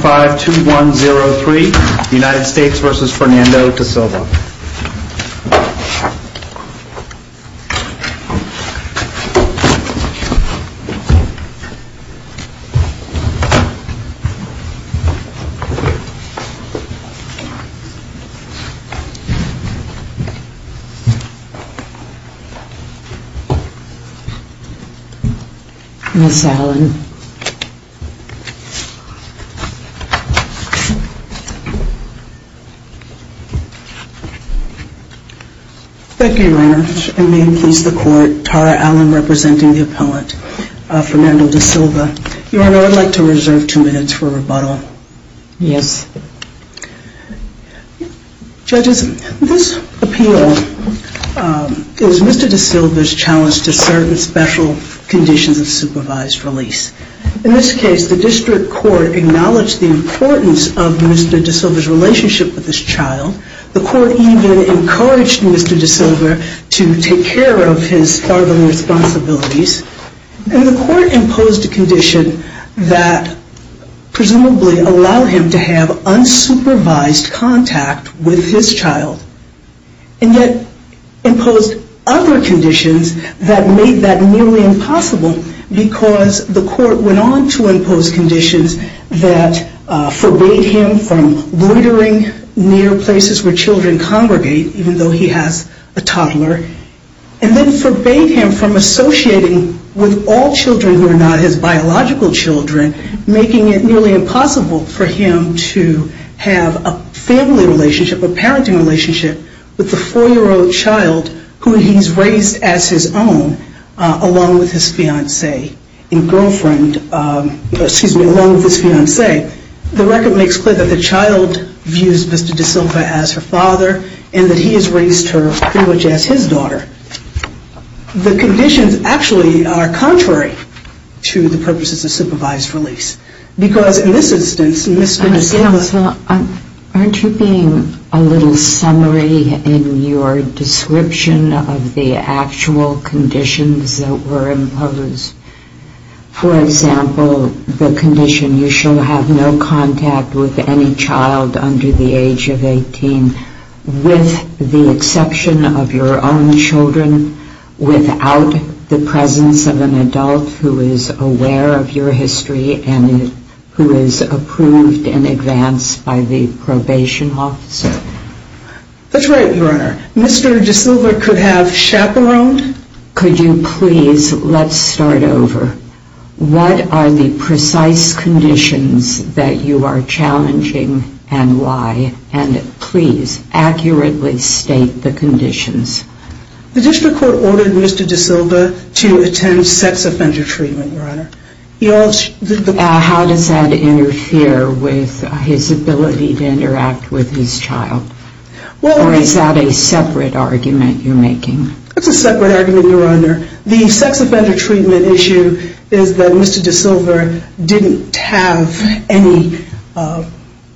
5, 2, 1, 0, 3, United States versus Fernando DeSilva. Thank you, Your Honor, and may it please the Court, Tara Allen representing the appellant Fernando DeSilva. Your Honor, I'd like to reserve two minutes for rebuttal. Yes. Judges, this appeal is Mr. DeSilva's challenge to certain special conditions of supervised release. In this case, the district court acknowledged the importance of Mr. DeSilva's relationship with this child. The court even encouraged Mr. DeSilva to take care of his fatherly responsibilities. And the court imposed a condition that presumably allowed him to have unsupervised contact with his child. And yet, imposed other conditions that made that nearly impossible because the court went on to impose conditions that forbade him from loitering near places where children congregate, even though he has a toddler, and then forbade him from associating with all children who are not his biological children, making it nearly impossible for him to have a family relationship, a parenting relationship, with a four-year-old child who he's raised as his own, along with his fiancée and girlfriend, excuse me, along with his fiancée. The record makes clear that the child views Mr. DeSilva as her father, and that he has raised her pretty much as his daughter. The conditions actually are contrary to the purposes of supervised release. Because in this instance, Mr. DeSilva... actual conditions that were imposed, for example, the condition you shall have no contact with any child under the age of 18, with the exception of your own children, without the presence of an adult who is aware of your history, and who is approved in advance by the probation officer. That's right, Your Honor. Mr. DeSilva could have chaperoned... Could you please, let's start over. What are the precise conditions that you are challenging, and why? And please, accurately state the conditions. The district court ordered Mr. DeSilva to attend sex offender treatment, Your Honor. He also... How does that interfere with his ability to interact with his child? Or is that a separate argument you're making? It's a separate argument, Your Honor. The sex offender treatment issue is that Mr. DeSilva didn't have any...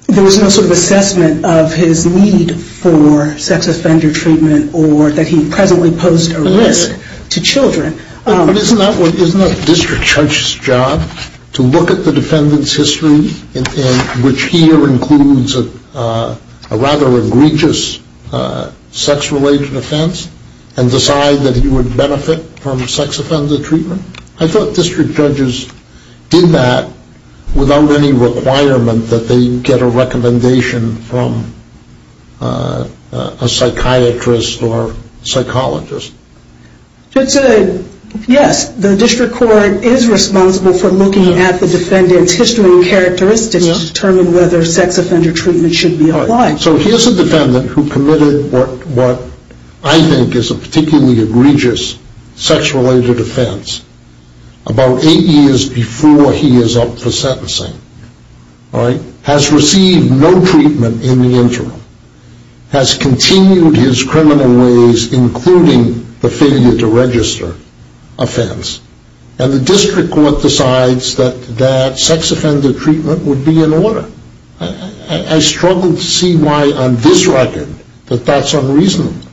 There was no sort of assessment of his need for sex offender treatment, or that he presently posed a risk to children. But isn't that the district judge's job, to look at the defendant's history, which here includes a rather egregious sex-related offense, and decide that he would benefit from sex offender treatment? I thought district judges did that without any requirement that they get a recommendation from a psychiatrist or psychologist. Yes, the district court is responsible for looking at the defendant's history and characteristics to determine whether sex offender treatment should be applied. So here's a defendant who committed what I think is a particularly egregious sex-related offense about eight years before he is up for sentencing. Has received no treatment in the interim. Has continued his criminal ways, including the failure to register offense. And the district court decides that sex offender treatment would be in order. I struggle to see why on this record, that that's unreasonable.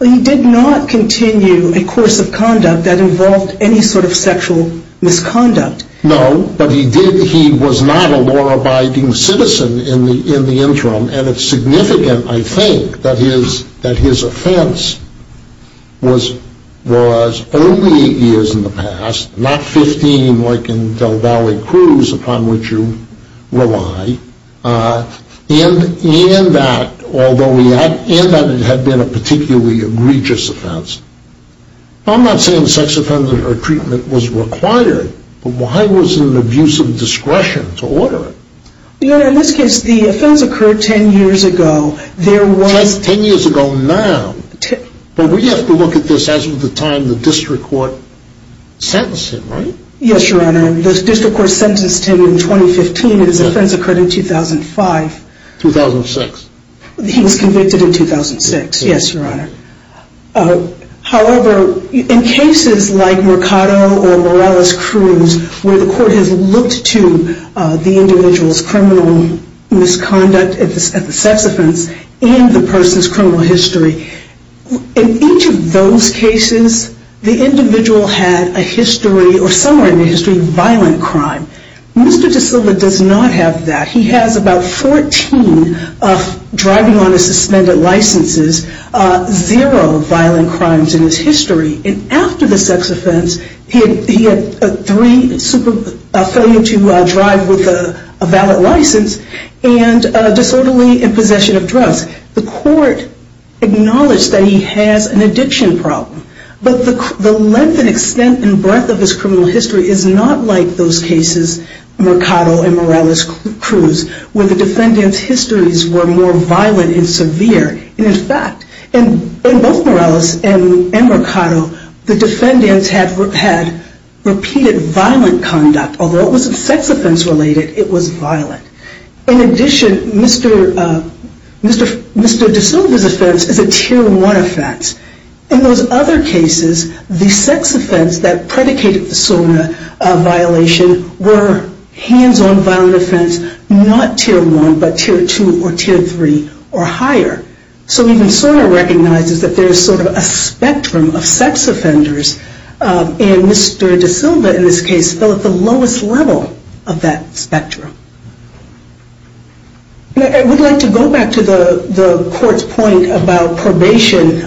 He did not continue a course of conduct that involved any sort of sexual misconduct. No, but he was not a law-abiding citizen in the interim, and it's significant, I think, that his offense was only eight years in the past, not 15 like in Del Valle Cruz, upon which you rely, and that it had been a particularly egregious offense. I'm not saying sex offender treatment was required, but why was there an abuse of discretion to order it? Your Honor, in this case, the offense occurred 10 years ago. There was... 10 years ago now? But we have to look at this as of the time the district court sentenced him, right? Yes, Your Honor. The district court sentenced him in 2015, and his offense occurred in 2005. 2006. He was convicted in 2006, yes, Your Honor. However, in cases like Mercado or Morales Cruz, where the court has looked to the individual's criminal misconduct at the sex offense and the person's criminal history, in each of those cases, the individual had a history, or somewhere in the history, of violent crime. Mr. De Silva does not have that. He has about 14 driving on a suspended license, zero violent crimes in his history, and after the sex offense, he had three, a failure to drive with a valid license, and disorderly in possession of drugs. The court acknowledged that he has an addiction problem, but the length and extent and breadth of his criminal history is not like those cases, Mercado and Morales Cruz, where the defendant's histories were more violent and severe. In fact, in both Morales and Mercado, the defendants had repeated violent conduct, although it wasn't sex offense related, it was violent. In addition, Mr. De Silva's offense is a Tier 1 offense. In those other cases, the sex offense that predicated the SONA violation were hands-on violent offenses, not Tier 1, but Tier 2 or Tier 3 or higher. So even SONA recognizes that there's sort of a spectrum of sex offenders, and Mr. De Silva, in this case, fell at the lowest level of that spectrum. I would like to go back to the court's point about probation,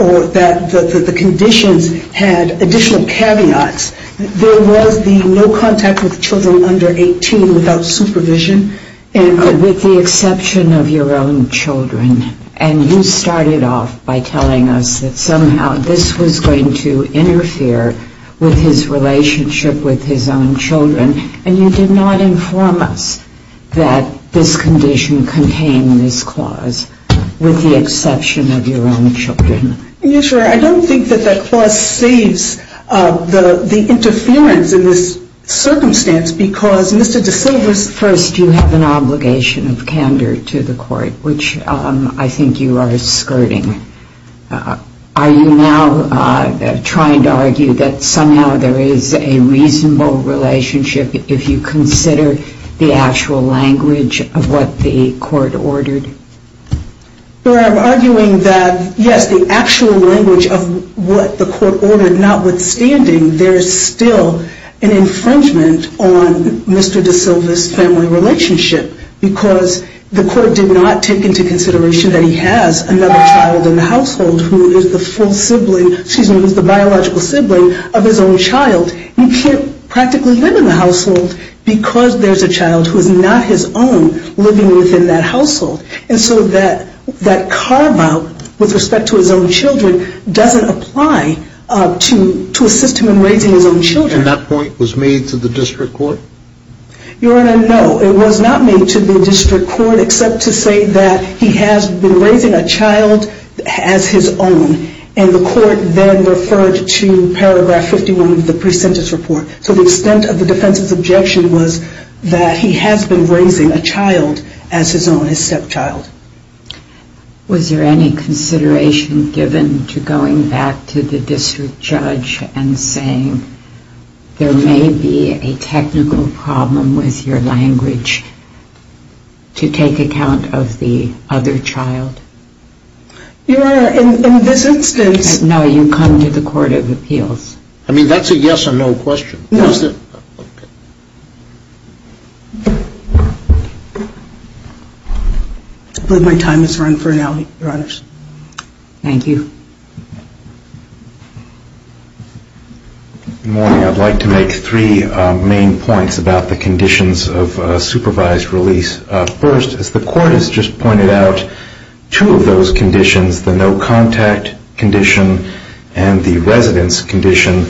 or that the conditions had additional caveats. There was the no contact with children under 18 without supervision. And with the exception of your own children, and you started off by telling us that somehow this was going to interfere with his relationship with his own children, and you did not inform us that this condition contained this clause, with the exception of your own children. Yes, Your Honor. I don't think that that clause saves the interference in this circumstance, because Mr. De Silva's First, you have an obligation of candor to the court, which I think you are skirting. Are you now trying to argue that somehow there is a reasonable relationship if you consider the actual language of what the court ordered? Your Honor, I'm arguing that, yes, the actual language of what the court ordered, notwithstanding, there is still an infringement on Mr. De Silva's family relationship, because the court did not take into consideration that he has another child in the household who is the biological sibling of his own child. He can't practically live in the household because there's a child who is not his own living within that household, and so that carve-out with respect to his own children doesn't apply to assist him in raising his own children. And that point was made to the district court? Your Honor, no, it was not made to the district court, except to say that he has been raising a child as his own, and the court then referred to paragraph 51 of the pre-sentence report. So the extent of the defense's objection was that he has been raising a child as his own, his stepchild. Was there any consideration given to going back to the district judge and saying there may be a technical problem with your language to take account of the other child? Your Honor, in this instance... No, you come to the court of appeals. I mean, that's a yes or no question. I believe my time has run for now, Your Honors. Thank you. Good morning. I'd like to make three main points about the conditions of supervised release. First, as the court has just pointed out, two of those conditions, the no-contact condition and the residence condition,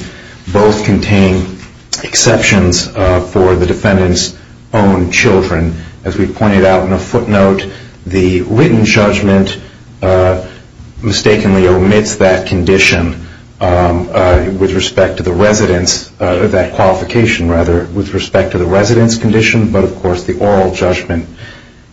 both contain exceptions for the defendant's own children. As we pointed out in a footnote, the written judgment mistakenly omits that condition with respect to the residence, that qualification rather, with respect to the residence condition, but of course the oral judgment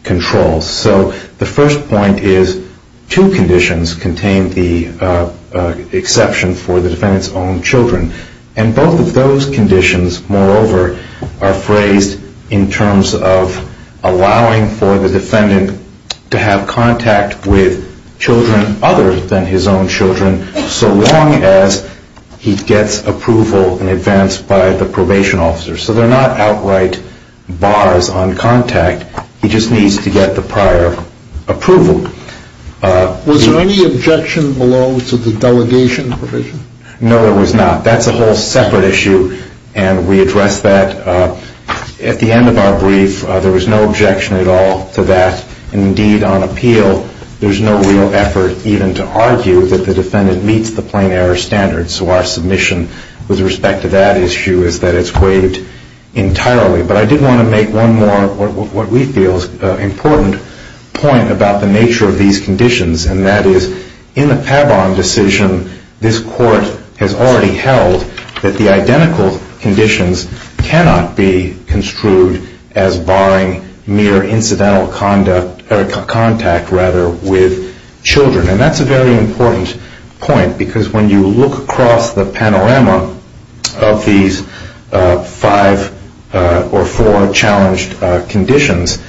controls. So the first point is two conditions contain the exception for the defendant's own children, and both of those conditions, moreover, are phrased in terms of allowing for the defendant to have contact with children other than his own children so long as he gets approval in advance by the probation officer. So they're not outright bars on contact. He just needs to get the prior approval. Was there any objection below to the delegation provision? No, there was not. That's a whole separate issue, and we addressed that at the end of our brief. There was no objection at all to that. Indeed, on appeal, there's no real effort even to argue that the defendant meets the plain error standard. So our submission with respect to that issue is that it's waived entirely. But I did want to make one more, what we feel is an important point about the nature of these conditions, and that is in the Pabon decision, this Court has already held that the identical conditions cannot be construed as barring mere incidental contact with children. And that's a very important point because when you look across the panorama of these five or four challenged conditions,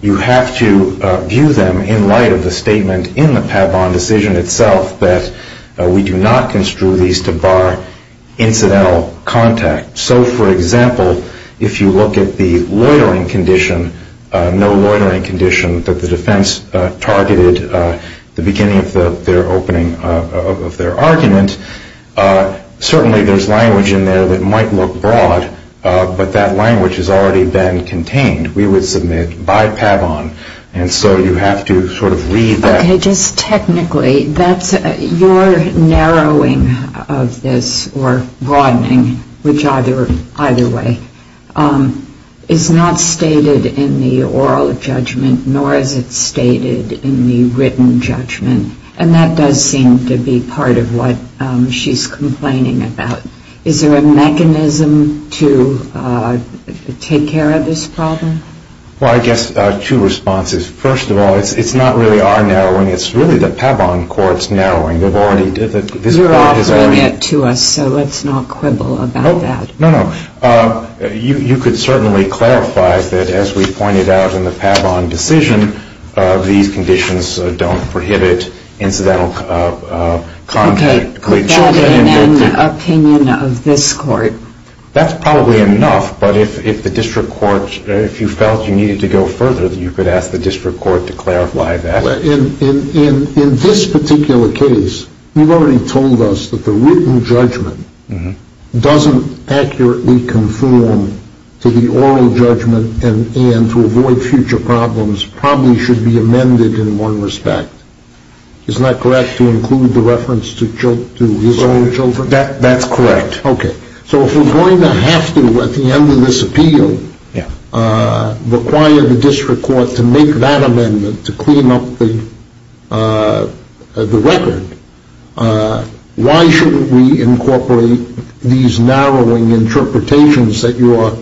you have to view them in light of the statement in the Pabon decision itself that we do not construe these to bar incidental contact. So, for example, if you look at the loitering condition, no loitering condition that the defense targeted at the beginning of their opening of their argument, certainly there's language in there that might look broad, but that language has already been contained. We would submit by Pabon, and so you have to sort of read that. Okay, just technically, your narrowing of this or broadening, which either way is not stated in the oral judgment, nor is it stated in the written judgment, and that does seem to be part of what she's complaining about. Is there a mechanism to take care of this problem? Well, I guess two responses. First of all, it's not really our narrowing, it's really the Pabon Court's narrowing. You're offering it to us, so let's not quibble about that. No, no. You could certainly clarify that, as we pointed out in the Pabon decision, these conditions don't prohibit incidental contact. Okay, put that in an opinion of this Court. That's probably enough, but if the District Court, if you felt you needed to go further, you could ask the District Court to clarify that. In this particular case, you've already told us that the written judgment doesn't accurately conform to the oral judgment, and to avoid future problems, probably should be amended in one respect. Isn't that correct, to include the reference to his own judgment? That's correct. Okay, so if we're going to have to, at the end of this appeal, require the District Court to make that amendment to clean up the record, why shouldn't we incorporate these narrowing interpretations that you are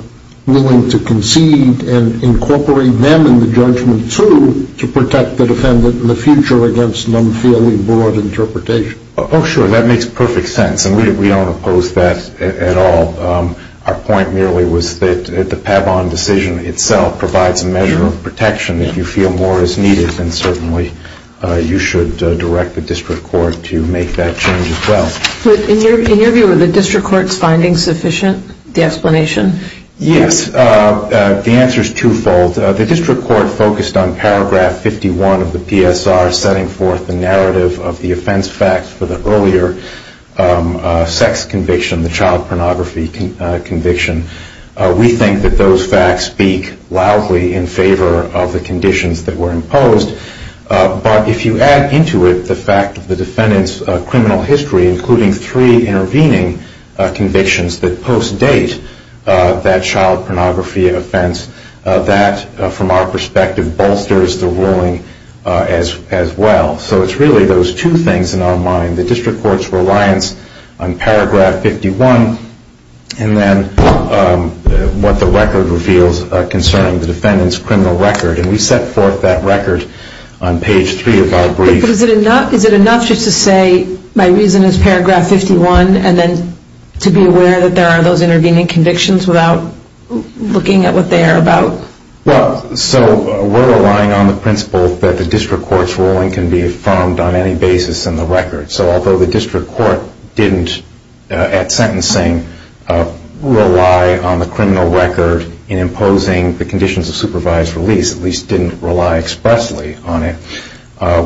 willing to concede and incorporate them in the judgment, too, to protect the defendant in the future against an unfairly broad interpretation? Oh, sure, that makes perfect sense, and we don't oppose that at all. Our point merely was that the Pavon decision itself provides a measure of protection that you feel more is needed, and certainly you should direct the District Court to make that change as well. In your view, are the District Court's findings sufficient, the explanation? Yes, the answer is twofold. The District Court focused on paragraph 51 of the PSR, setting forth the narrative of the offense facts for the earlier sex conviction, the child pornography conviction. We think that those facts speak loudly in favor of the conditions that were imposed, but if you add into it the fact that the defendant's criminal history, including three intervening convictions that post-date that child pornography offense, that, from our perspective, bolsters the ruling as well. So it's really those two things in our mind. The District Court's reliance on paragraph 51, and then what the record reveals concerning the defendant's criminal record. And we set forth that record on page three of our brief. Is it enough just to say, my reason is paragraph 51, and then to be aware that there are those intervening convictions without looking at what they are about? Well, so we're relying on the principle that the District Court's ruling can be affirmed on any basis in the record. So although the District Court didn't, at sentencing, rely on the criminal record in imposing the conditions of supervised release, at least didn't rely expressly on it,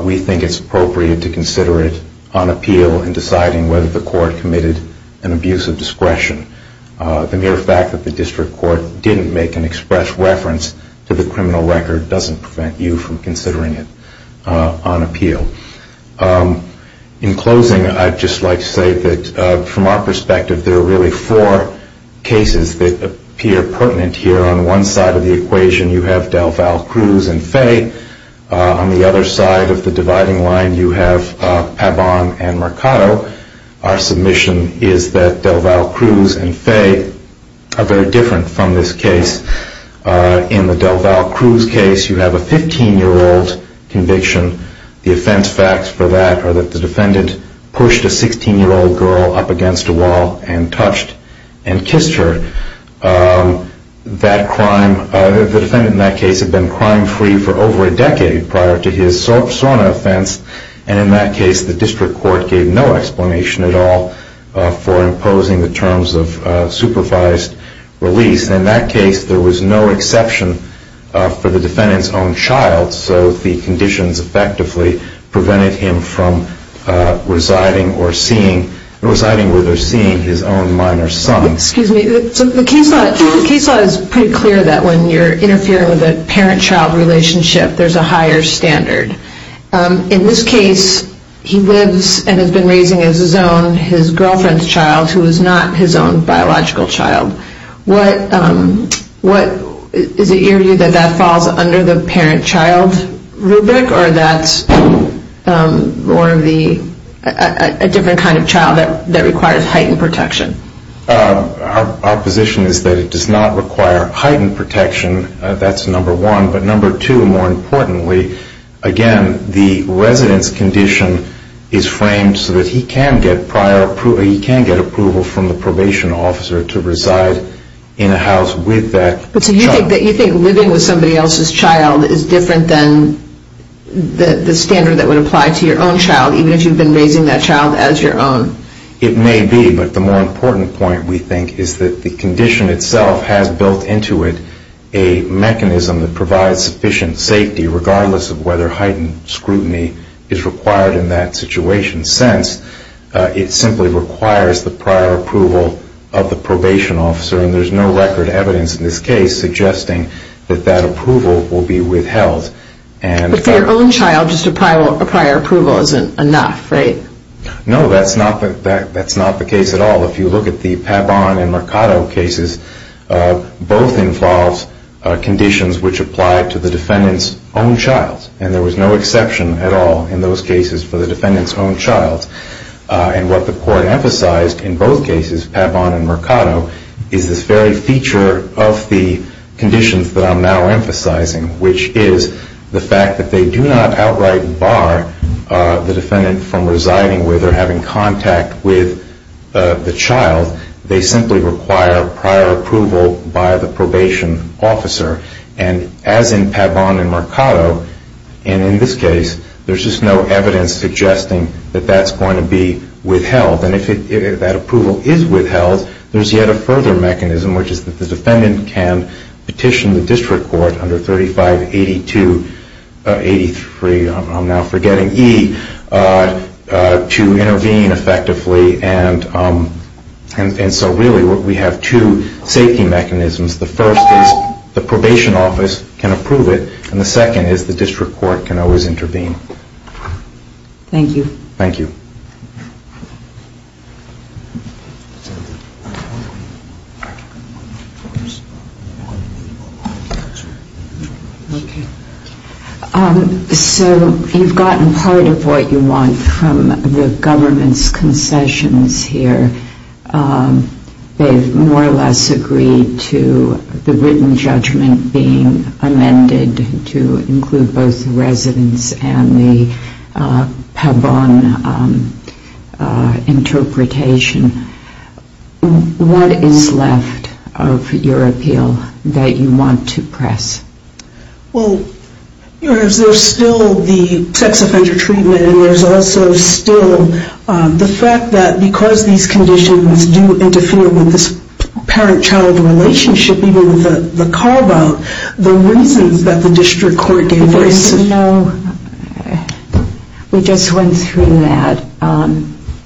we think it's appropriate to consider it on appeal in deciding whether the court committed an abuse of discretion. The mere fact that the District Court didn't make an express reference to the criminal record doesn't prevent you from considering it on appeal. In closing, I'd just like to say that, from our perspective, there are really four cases that appear pertinent here. On one side of the equation, you have DelVal, Cruz, and Fay. On the other side of the dividing line, you have Pabon and Mercado. Our submission is that DelVal, Cruz, and Fay are very different from this case. In the DelVal, Cruz case, you have a 15-year-old conviction. The offense facts for that are that the defendant pushed a 16-year-old girl up against a wall and touched and kissed her. The defendant in that case had been crime-free for over a decade prior to his sauna offense, and in that case, the District Court gave no explanation at all for imposing the terms of supervised release. In that case, there was no exception for the defendant's own child, so the conditions effectively prevented him from residing with or seeing his own minor son. Excuse me. The case law is pretty clear that when you're interfering with a parent-child relationship, there's a higher standard. In this case, he lives and has been raising his girlfriend's child, who is not his own biological child. Is it your view that that falls under the parent-child rubric, or that's a different kind of child that requires heightened protection? Our position is that it does not require heightened protection. That's number one. But number two, more importantly, again, the resident's condition is framed so that he can get approval from the probation officer to reside in a house with that child. So you think living with somebody else's child is different than the standard that would apply to your own child, even if you've been raising that child as your own? It may be, but the more important point, we think, is that the condition itself has built into it a mechanism that regardless of whether heightened scrutiny is required in that situation sense, it simply requires the prior approval of the probation officer. And there's no record evidence in this case suggesting that that approval will be withheld. But for your own child, just a prior approval isn't enough, right? No, that's not the case at all. If you look at the Pabon and Mercado cases, both involve conditions which apply to the defendant's own child. And there was no exception at all in those cases for the defendant's own child. And what the Court emphasized in both cases, Pabon and Mercado, is this very feature of the conditions that I'm now emphasizing, which is the fact that they do not outright bar the defendant from residing with or having contact with the child. They simply require prior approval by the probation officer. And as in Pabon and Mercado, and in this case, there's just no evidence suggesting that that's going to be withheld. And if that approval is withheld, there's yet a further mechanism, which is that the defendant can petition the District Court under 3582-83, I'm now forgetting E, to intervene effectively and so really we have two safety mechanisms. The first is the probation office can approve it and the second is the District Court can always intervene. Thank you. Thank you. So you've gotten part of what you want from the government's concessions here. They've more or less agreed to the written judgment being amended to include both residents and the Pabon interpretation. What is left of your appeal that you want to press? Well, there's still the sex offender treatment and there's also still the fact that because these conditions do interfere with this parent-child relationship, even the call about, the reasons that the District Court gave... We just went through that.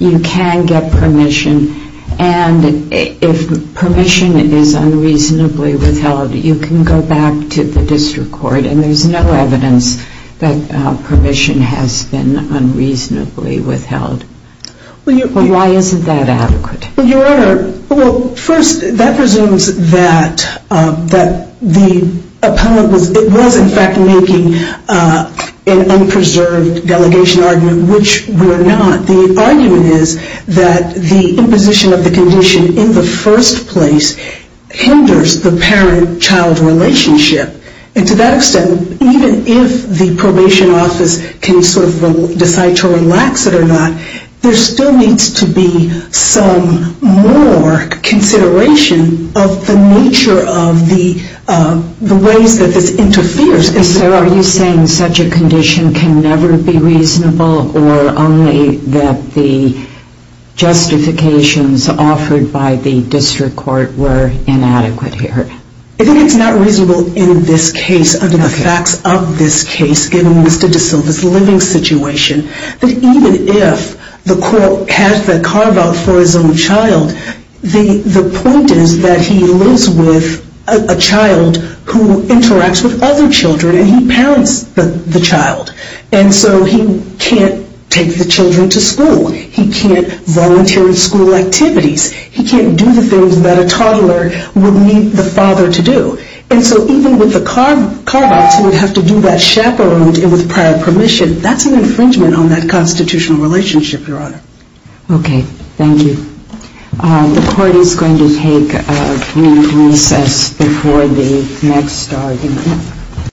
You can get permission and if permission is unreasonably withheld, you can go back to the District Court and there's no evidence that permission has been unreasonably withheld. Why isn't that adequate? First, that presumes that the appellant was in fact making an unpreserved delegation argument, which we're not. The argument is that the imposition of the condition in the first place hinders the parent-child relationship and to that extent, even if the probation office can sort of decide to relax it or not, there still needs to be some more consideration of the nature of the ways that this interferes. So are you saying such a condition can never be reasonable or only that the justifications offered by the District Court were inadequate here? I think it's not reasonable in this case under the facts of this case, given Mr. De Silva's living situation, that even if the court has the carve-out for his own child, the point is that he lives with a child who interacts with other children and he parents the child and so he can't take the children to school. He can't volunteer in school activities. He can't do the things that a toddler would need the father to do. And so even with the chaperoned and with prior permission, that's an infringement on that constitutional relationship, Your Honor. Okay. Thank you. The Court is going to take a community recess before the next argument.